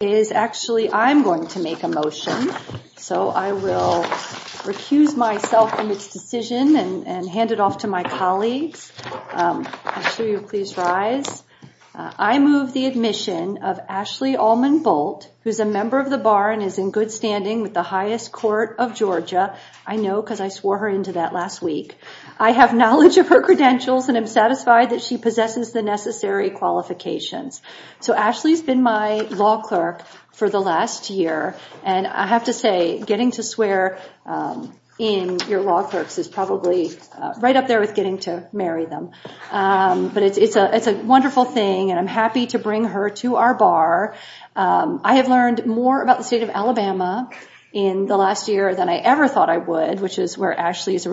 is actually I'm going to make a motion. So I will recuse myself from its decision and hand it off to my colleagues. I move the admission of Ashley Allman Bolt, who's a member of the bar and is in good standing with the highest court of Georgia. I know because I swore her into that last week. I have knowledge of her credentials and I'm satisfied that she possesses the necessary qualifications. So Ashley's been my law clerk for the last year and I have to say getting to swear in your law clerks is probably right up there with getting to marry them. But it's a it's a wonderful thing and I'm happy to bring her to our bar. I have learned more about the state of Alabama in the last year than I ever thought I would, which is where Ashley is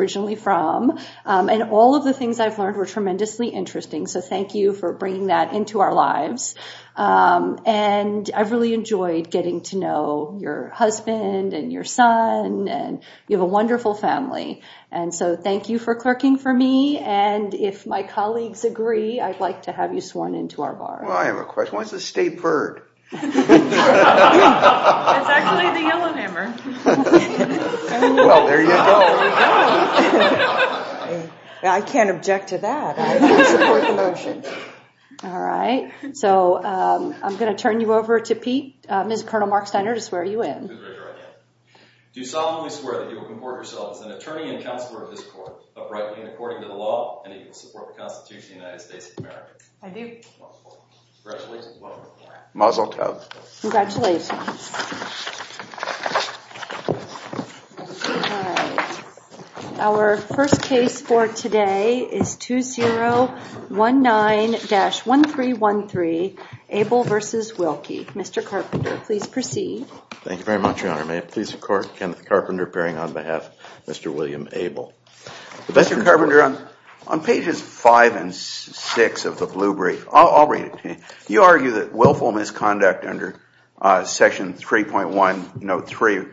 from. And all of the things I've learned were tremendously interesting. So thank you for bringing that into our lives. And I've really enjoyed getting to know your husband and your son and you have a wonderful family. And so thank you for clerking for me. And if my colleagues agree, I'd like to have you sworn into our bar. Well, I have a question. Why is the state bird? I can't object to that. All right. So I'm going to turn you over to Pete, Colonel Mark Steiner to swear you in. I do. Congratulations. Our first case for today is Kenneth Carpenter. Please proceed. Thank you very much, Your Honor. May it please the court, Kenneth Carpenter appearing on behalf of Mr. William Abel. Mr. Carpenter, on pages five and six of the blue brief, I'll read it to you. You argue that willful misconduct under Section 3.1, Note 3,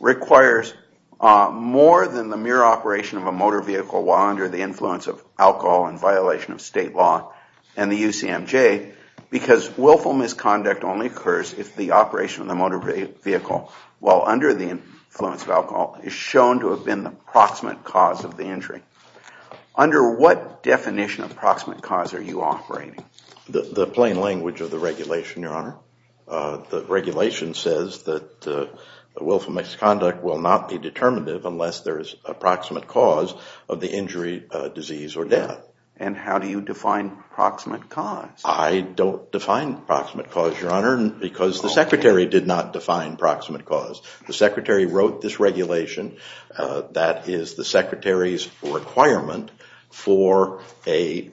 requires more than the mere operation of a motor vehicle while under the influence of alcohol in violation of state law and the UCMJ because willful misconduct only occurs if the operation of the motor vehicle while under the influence of alcohol is shown to have been the proximate cause of the injury. Under what definition of proximate cause are you operating? The plain language of the regulation, Your Honor. The regulation says that the willful misconduct will not be determinative unless there is a proximate cause of the injury, disease, or death. And how do you define proximate cause? I don't define proximate cause, Your Honor, because the Secretary did not define proximate cause. The Secretary wrote this regulation that is the Secretary's requirement for a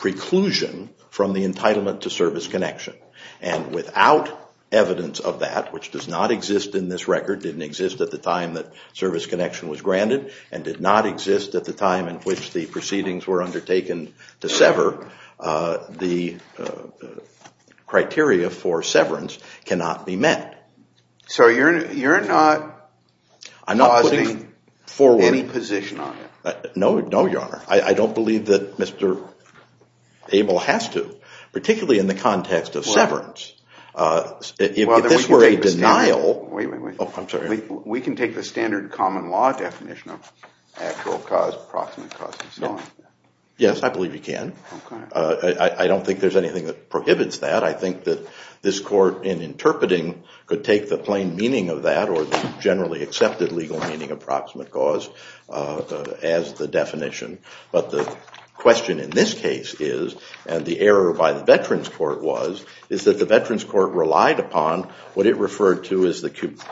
preclusion from the entitlement to service connection. And without evidence of that, which does not exist in this record, didn't exist at the time that service connection was granted, and did not exist at the time in which the proceedings were undertaken to sever, the criteria for severance cannot be met. So you're not causing any position on it? No, Your Honor. I don't believe that Mr. Abel has to, particularly in the context of severance. If this were a standard common law definition of actual cause, proximate cause is not. Yes, I believe you can. I don't think there's anything that prohibits that. I think that this Court, in interpreting, could take the plain meaning of that or the generally accepted legal meaning of proximate cause as the definition. But the question in this case is, and the error by the Veterans Court was, is that the Veterans Court relied upon what it referred to as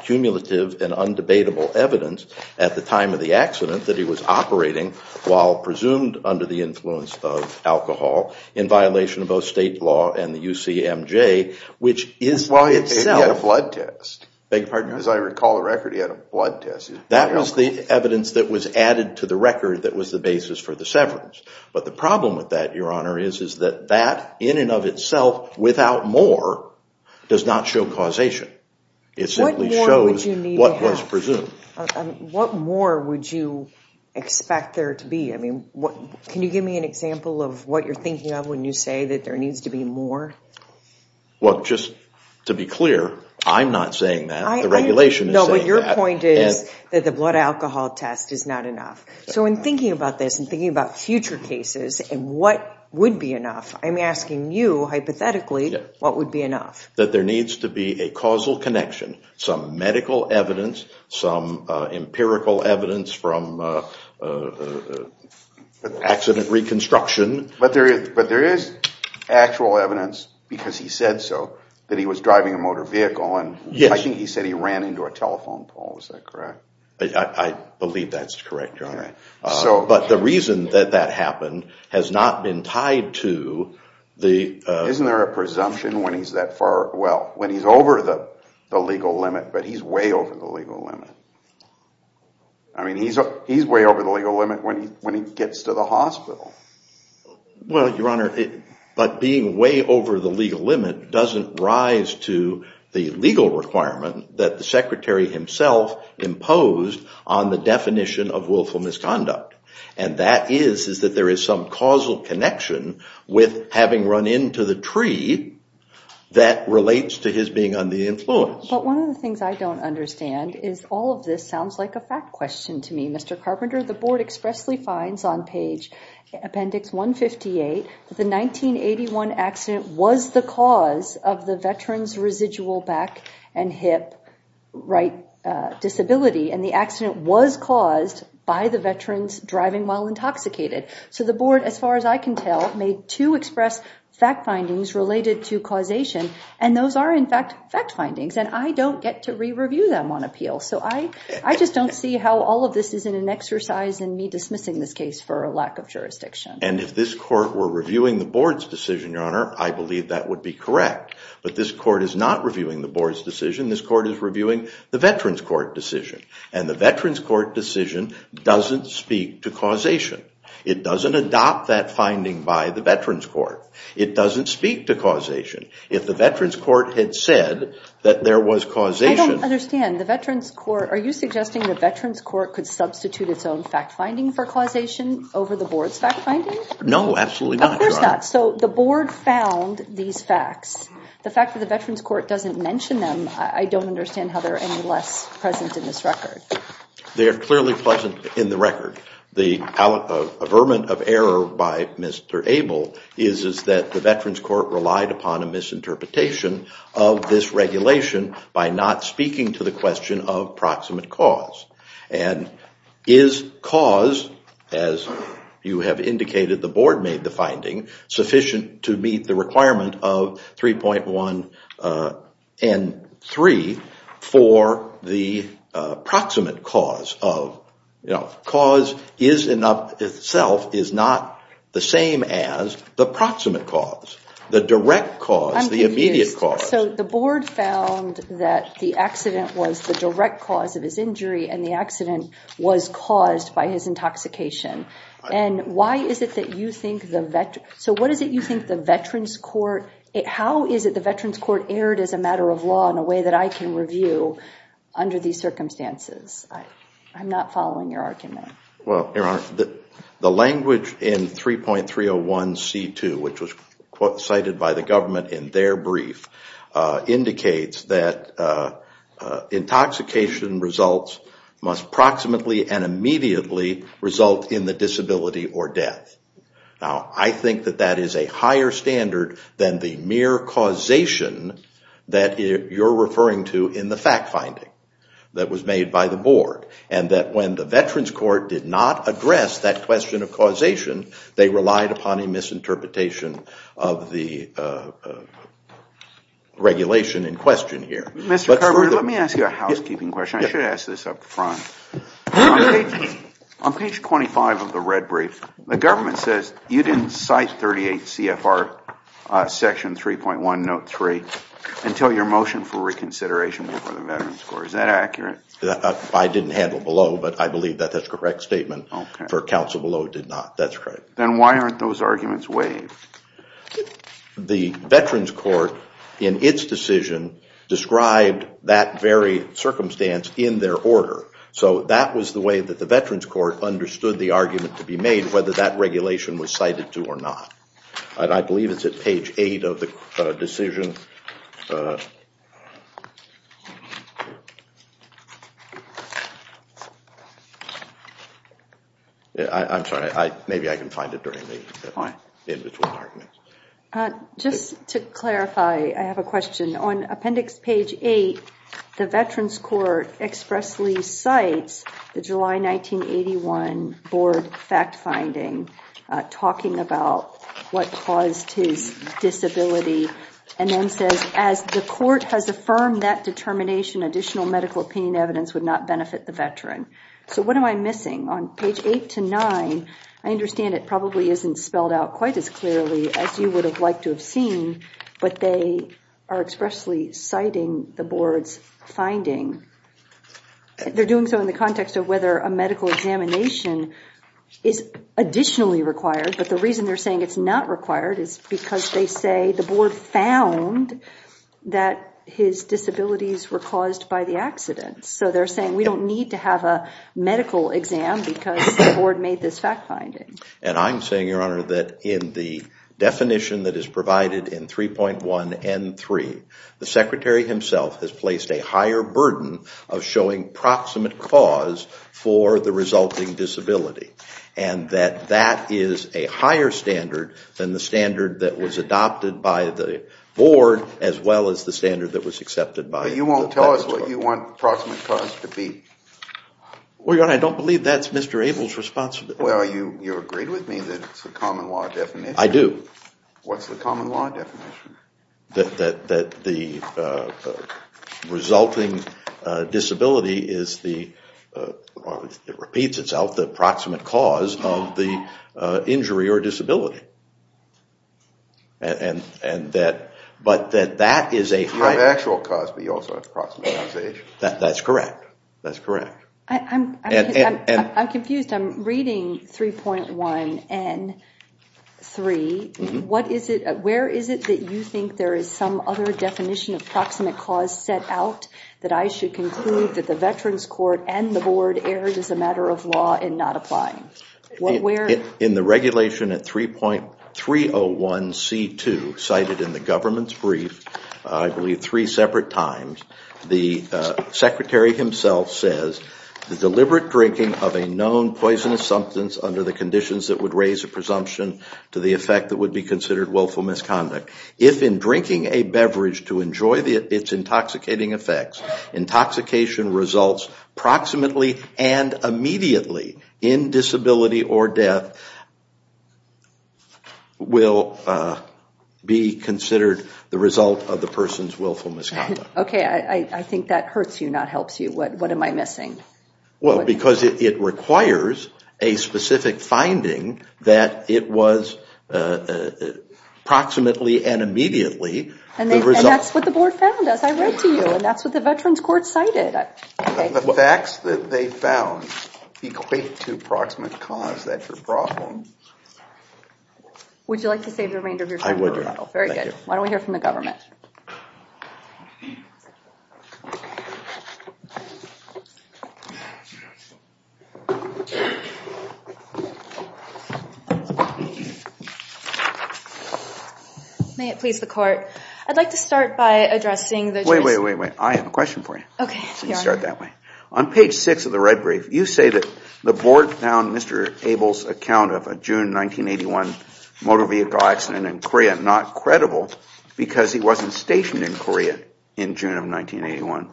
cumulative and undebatable evidence at the time of the accident that he was operating while presumed under the influence of alcohol, in violation of both state law and the UCMJ, which is, in and of itself, Well, he had a blood test. Beg your pardon? As I recall the record, he had a blood test. That was the evidence that was added to the record that was the basis for the severance. But the problem with that, Honor, is that that, in and of itself, without more, does not show causation. It simply shows what was presumed. What more would you expect there to be? I mean, can you give me an example of what you're thinking of when you say that there needs to be more? Well, just to be clear, I'm not saying that. The regulation is saying that. No, but your point is that the blood alcohol test is not enough. So in thinking about this and thinking about future cases and what would be enough, I'm asking you, hypothetically, what would be enough? That there needs to be a causal connection, some medical evidence, some empirical evidence from accident reconstruction. But there is actual evidence, because he said so, that he was driving a motor vehicle. And I think he said he ran into a telephone pole. Is that correct? I believe that's correct, Your Honor. But the reason that that happened has not been tied to the... Isn't there a presumption when he's that far, well, when he's over the legal limit, but he's way over the legal limit. I mean, he's way over the legal limit when he gets to the hospital. Well, Your Honor, but being way over the legal limit doesn't rise to the legal requirement that the Secretary himself imposed on the definition of willful misconduct. And that is that there is some causal connection with having run into the tree that relates to his being under the influence. But one of the things I don't understand is all of this sounds like a fact question to me. Mr. Carpenter, the board expressly finds on page appendix 158 that the 1981 accident was the cause of the veteran's residual back and hip right disability. And the accident was caused by the veterans driving while intoxicated. So the board, as far as I can tell, made two express fact findings related to causation. And those are in fact fact findings. And I don't get to re-review them on appeal. So I just don't see how all of this isn't an exercise in me dismissing this case for a lack of jurisdiction. And if this court were reviewing the board's decision, Your Honor, I believe that would be correct. But this court is not reviewing the board's decision. This court is reviewing the veterans court decision. And the veterans court decision doesn't speak to causation. It doesn't adopt that finding by the veterans court. It doesn't speak to causation. If the veterans court had said that there was causation. I don't understand. The veterans court, are you suggesting the veterans court could substitute its own fact finding for causation over the board's No, absolutely not. Of course not. So the board found these facts. The fact that the veterans court doesn't mention them, I don't understand how they're any less present in this record. They're clearly present in the record. The averment of error by Mr. Abel is that the veterans court relied upon a misinterpretation of this regulation by not speaking to the question of proximate cause. And is cause, as you have indicated the board made the finding, sufficient to meet the requirement of 3.1 and 3 for the proximate cause of, you know, cause is in itself is not the same as the proximate cause, the direct cause, the immediate cause. So the board found that the accident was the direct cause of his injury and the accident was caused by his intoxication. And why is it that you think the veterans, so what is it you think the veterans court, how is it the veterans court erred as a matter of law in a way that I can review under these circumstances? I'm not following your argument. Well, Your Honor, the language in 3.301 which was cited by the government in their brief indicates that intoxication results must proximately and immediately result in the disability or death. Now, I think that that is a higher standard than the mere causation that you're referring to in the fact finding that was made by the board. And that when the veterans court did not address that question of causation, they relied upon a misinterpretation of the regulation in question here. Mr. Carter, let me ask you a housekeeping question. I should ask this up front. On page 25 of the red brief, the government says you didn't cite 38 CFR section 3.1 note 3 until your motion for reconsideration before the veterans court. Is that accurate? I didn't handle below, but I believe that that's correct statement for counsel below did not. Then why aren't those arguments waived? The veterans court in its decision described that very circumstance in their order. So that was the way that the veterans court understood the argument to be made whether that regulation was cited to or not. And I believe it's at page eight of the decision. I'm sorry. Maybe I can find it during the in between arguments. Just to clarify, I have a question. On appendix page eight, the veterans court expressly cites the July 1981 board fact finding talking about what caused his disability and then says, as the court has affirmed that determination, additional medical opinion evidence would not benefit the veteran. So what am I missing on page eight to nine? I understand it probably isn't spelled out quite as clearly as you would have liked to have seen, but they are expressly citing the board's finding. They're doing so in the context of whether a medical examination is additionally required. But the reason they're saying it's not required is because they say the board found that his disabilities were caused by the accident. So they're saying we don't need to have a medical exam because the board made this fact finding. And I'm saying, Your Honor, that in the definition that is provided in 3.1N3, the secretary himself has placed a higher burden of showing proximate cause for the resulting disability. And that that is a higher standard than the standard that was adopted by the board as well as the standard that was accepted by the veterans court. But you won't tell us what you want proximate cause to be? Well, Your Honor, I don't believe that's Mr. Abel's responsibility. Well, you agreed with me that it's a common law definition. I do. What's the common law definition? That the resulting disability is the, it repeats itself, the proximate cause of the injury or disability. And that, but that that is a higher... You have actual cause, but you also have proximate causation. That's correct. That's correct. I'm confused. I'm reading 3.1N3. Where is it that you think there is some other definition of proximate cause set out that I should conclude that the veterans court and the board erred as a matter of law in not applying? Where? In the regulation at 3.301C2 cited in the government's brief, I believe three separate times, the secretary himself says, the deliberate drinking of a known poisonous substance under the conditions that would raise a presumption to the effect that would be considered willful misconduct. If in drinking a beverage to enjoy its intoxicating effects, intoxication results approximately and immediately in disability or death will be considered the result of the person's willful misconduct. Okay. I think that hurts you, not helps you. What am I missing? Well, because it requires a specific finding that it was approximately and immediately. And that's what the board found as I read to you. And that's what the veterans court cited. The facts that they found equate to proximate cause. That's a problem. Would you like to save the remainder of your time? I would. Very good. Why don't we hear from the government? May it please the court. I'd like to start by addressing the Wait, wait, wait, wait. I have a question for you. Okay. Start that way. On page six of the red brief, you say that the board found Mr. Abel's account of a June 1981 motor vehicle accident in Korea not credible because he wasn't stationed in Korea in June of 1981.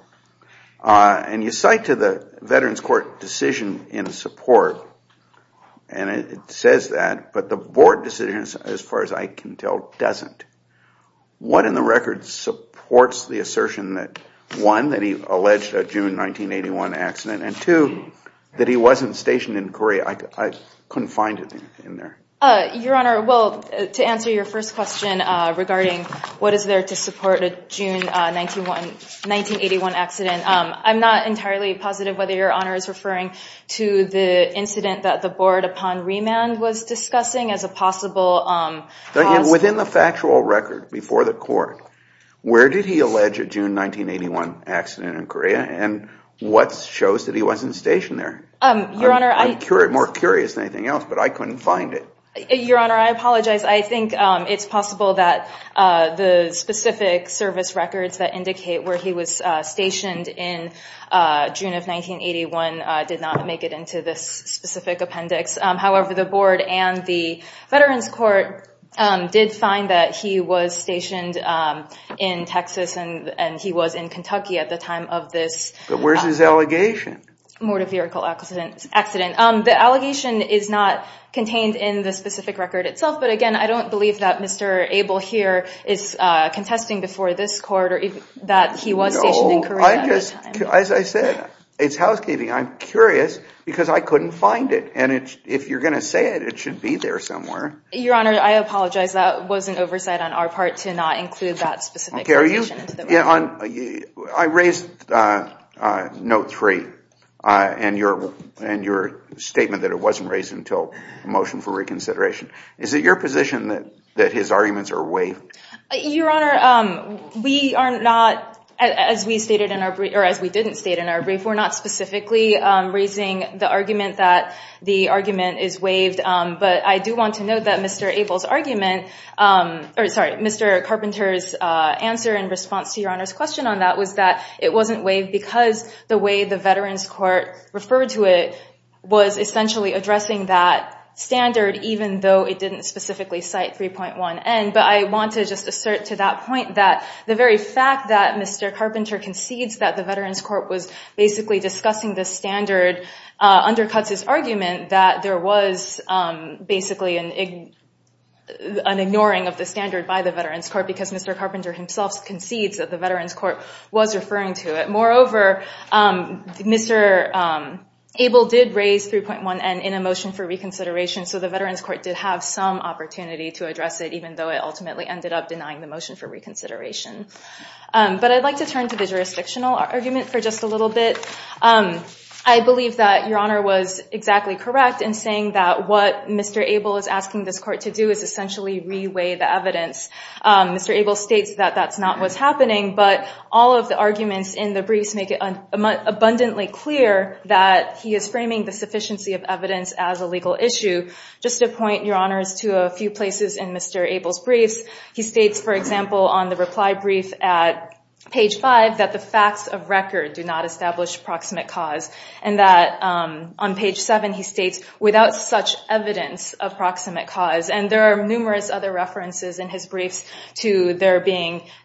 And you cite to the veterans court decision in support. And it says that, but the board decision, as far as I can tell, doesn't. What in the record supports the assertion that one, that he alleged a June 1981 accident, and two, that he wasn't stationed in Korea? I couldn't find it in there. Your Honor, well, to answer your first question regarding what is there to support a June 1981 accident, I'm not entirely positive whether your Honor is referring to the incident that the board, upon remand, was discussing as a possible cause. Within the factual record before the court, where did he allege a June 1981 accident in Korea? And what shows that he wasn't stationed there? Your Honor, I... I'm more curious than anything else, but I couldn't find it. Your Honor, I apologize. I think it's possible that the specific service records that indicate where he was stationed in June of 1981 did not make it into this specific appendix. However, the board and the veterans court did find that he was stationed in Texas, and he was in Kentucky at the time of this... But where's his allegation? Mortor vehicle accident. The allegation is not contained in the specific record itself, but again, I don't believe that Mr. Abel here is contesting before this court that he was stationed in Korea at the time. No, I just... As I said, it's housekeeping. I'm curious because I couldn't find it, and if you're going to say it, it should be there somewhere. Your Honor, I apologize. That was an oversight on our part to not include that specific allegation into the record. On... I raised note three in your statement that it wasn't raised until a motion for reconsideration. Is it your position that his arguments are waived? Your Honor, we are not, as we stated in our brief, or as we didn't state in our brief, we're not specifically raising the argument that the argument is waived, but I do want to note that Mr. Abel's argument... Or sorry, Mr. Carpenter's answer in response to Your Honor's question on that was that it wasn't waived because the way the Veterans Court referred to it was essentially addressing that standard even though it didn't specifically cite 3.1N, but I want to just assert to that point that the very fact that Mr. Carpenter concedes that the Veterans Court was basically discussing this standard undercuts his argument that there was basically an ignoring of the standard by the Veterans Court because Mr. himself concedes that the Veterans Court was referring to it. Moreover, Mr. Abel did raise 3.1N in a motion for reconsideration, so the Veterans Court did have some opportunity to address it even though it ultimately ended up denying the motion for reconsideration. But I'd like to turn to the jurisdictional argument for just a little bit. I believe that Your Honor was exactly correct in saying that what Mr. Abel is asking this court to do is that's not what's happening, but all of the arguments in the briefs make it abundantly clear that he is framing the sufficiency of evidence as a legal issue. Just a point, Your Honor, to a few places in Mr. Abel's briefs. He states, for example, on the reply brief at page 5 that the facts of record do not establish proximate cause and that on page 7 he states, without such evidence of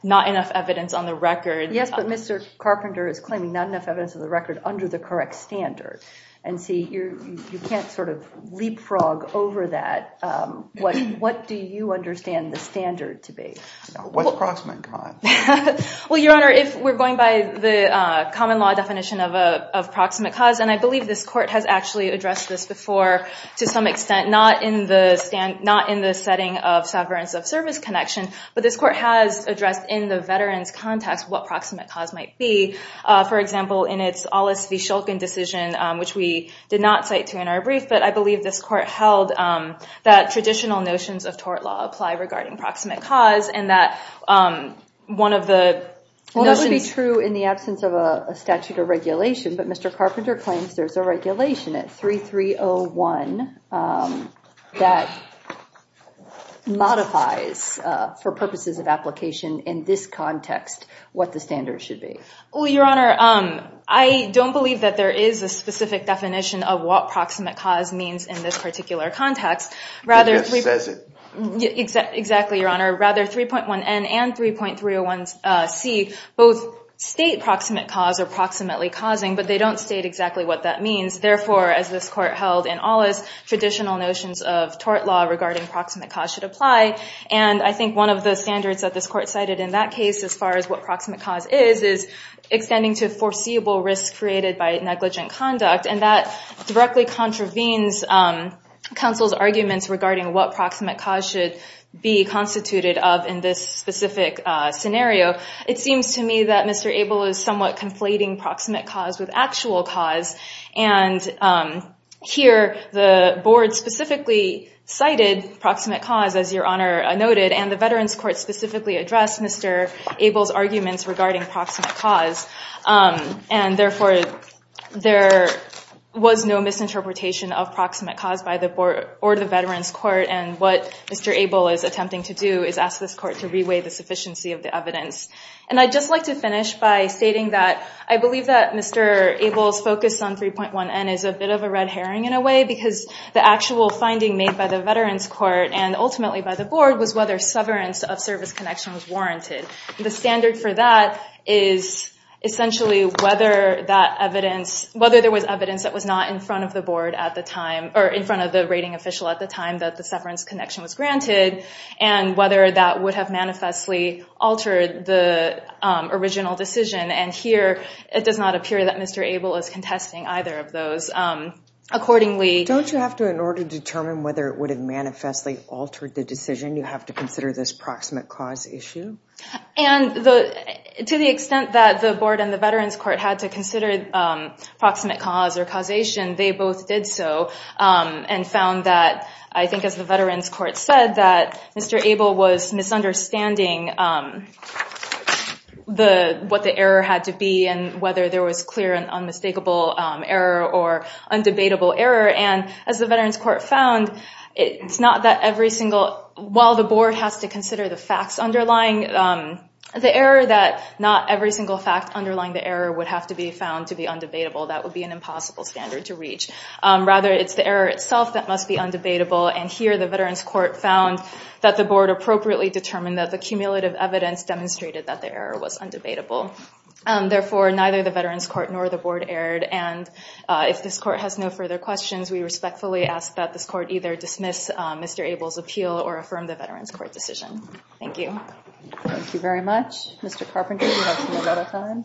not enough evidence on the record. Yes, but Mr. Carpenter is claiming not enough evidence of the record under the correct standard. And see, you can't sort of leapfrog over that. What do you understand the standard to be? What's proximate cause? Well, Your Honor, if we're going by the common law definition of proximate cause, and I believe this court has actually addressed this before to some extent, not in the setting of sovereign self-service connection, but this in the veteran's context, what proximate cause might be. For example, in its Aulis v. Shulkin decision, which we did not cite to in our brief, but I believe this court held that traditional notions of tort law apply regarding proximate cause and that one of the notions... Well, that would be true in the absence of a statute of regulation, but Mr. Carpenter claims there's a regulation at 3301 that modifies for purposes of application in this context what the standard should be. Well, Your Honor, I don't believe that there is a specific definition of what proximate cause means in this particular context. It just says it. Exactly, Your Honor. Rather, 3.1n and 3.301c both state proximate cause or proximately causing, but they don't state exactly what that means. Therefore, as this court held in Aulis, traditional notions of tort law regarding proximate cause should apply, and I think one of the standards that this court cited in that case, as far as what proximate cause is, is extending to foreseeable risk created by negligent conduct, and that directly contravenes counsel's arguments regarding what proximate cause should be constituted of in this specific scenario. It seems to me that Mr. Abel is somewhat conflating proximate cause with actual cause, and here the board specifically cited proximate cause, as Your Honor noted, and the Veterans Court specifically addressed Mr. Abel's arguments regarding proximate cause, and therefore there was no misinterpretation of proximate cause by the board or the Veterans Court, and what Mr. Abel is attempting to do is ask this court to reweigh the sufficiency of the evidence, and I'd just like to finish by stating that I believe that Mr. Abel's focus on 3.1n is a bit of a red herring in a way, because the actual finding made by the Veterans Court and ultimately by the board was whether severance of service connection was warranted. The standard for that is essentially whether that evidence, whether there was evidence that was not in front of the board at the time, or in front of the rating official at the time, that the severance connection was granted, and whether that would have manifestly altered the original decision, and here it does not appear that Mr. Abel is contesting either of those. Don't you have to, in order to determine whether it would have manifestly altered the decision, you have to consider this proximate cause issue? And to the extent that the board and the Veterans Court had to consider proximate cause or causation, they both did so and found that I think as the Veterans Court said, that Mr. Abel was misunderstanding what the error had to be, and whether there was clear and unmistakable error or undebatable error, and as the Veterans Court found, it's not that every single, while the board has to consider the facts underlying the error, that not every single fact underlying the error would have to be found to be undebatable. That would be an impossible standard to reach. Rather, it's the error itself that must be undebatable, and here the Veterans Court found that the board appropriately determined that the cumulative evidence demonstrated that the error was undebatable. Therefore, neither the Veterans Court nor the board erred, and if this court has no further questions, we respectfully ask that this court either dismiss Mr. Abel's appeal or affirm the Veterans Court decision. Thank you. Thank you very much. Mr. Carpenter, do you have some more time?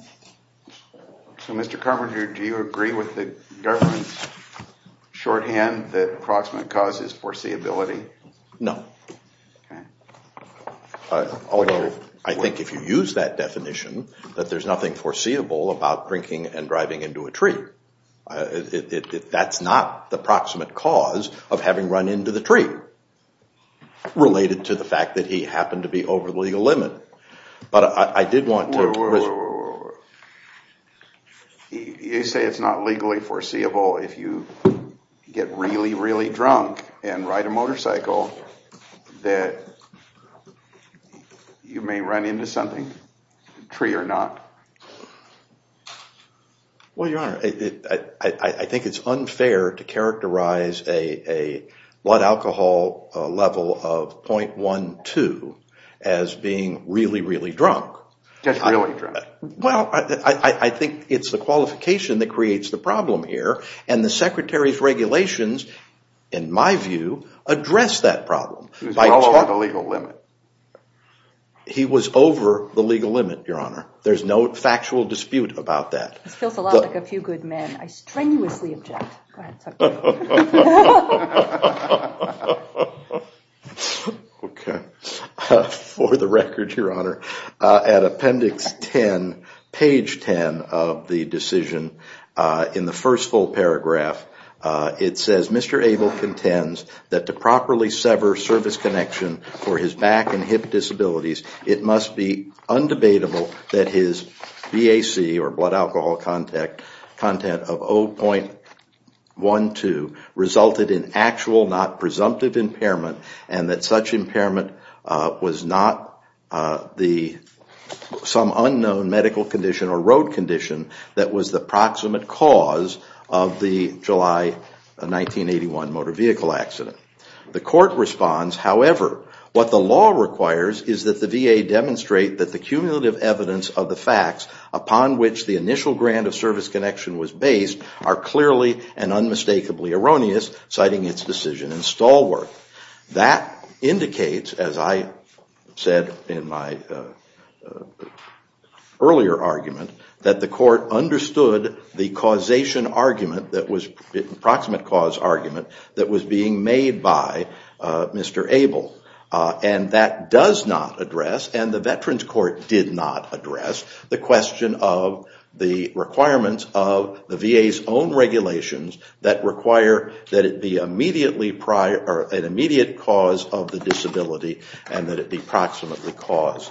So Mr. Carpenter, do you agree with the government's shorthand that approximate cause is foreseeability? No. Okay. Although I think if you use that definition, that there's nothing foreseeable about drinking and driving into a tree. That's not the approximate cause of having run into the tree, related to the fact that he happened to be over the legal limit. But I did want to... You say it's not legally foreseeable if you get really, really drunk and ride a motorcycle that you may run into something, a tree or not. Well, Your Honor, I think it's unfair to characterize a blood alcohol level of 0.12 as being really, really drunk. Just really drunk. Well, I think it's the qualification that creates the problem here, and the Secretary's regulations, in my view, address that problem. He was well over the legal limit. He was over the legal limit, Your Honor. There's no factual dispute about that. This feels a lot like a few good men. I strenuously object. Go ahead. Okay. For the record, Your Honor, at appendix 10, page 10 of the decision, in the first full paragraph, it says, Mr. Abel contends that to properly sever service connection for his back and hip disabilities, it must be undebatable that his BAC, or blood alcohol content, of 0.12 resulted in actual, not presumptive impairment, and that such impairment was not some unknown medical condition or road condition that was the proximate cause of the July 1981 motor vehicle accident. The court responds, however, what the law requires is that the VA demonstrate that the cumulative evidence of the facts upon which the initial grant of service connection was based are clearly and unmistakably erroneous, citing its decision and stalwart. That indicates, as I said in my earlier argument, that the court understood the causation argument, proximate cause argument, that was being made by Mr. Abel. And that does not address, and the Veterans Court did not address, the question of the requirements of the VA's own regulations that require that it be an immediate cause of the disability and that it be proximately the cause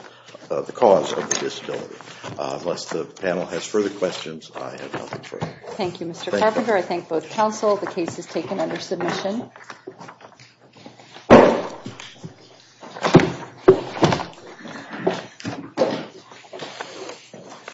of the disability. Unless the panel has further questions, I have nothing further. Thank you, Mr. Carpenter. I thank both counsel. The case is taken under submission.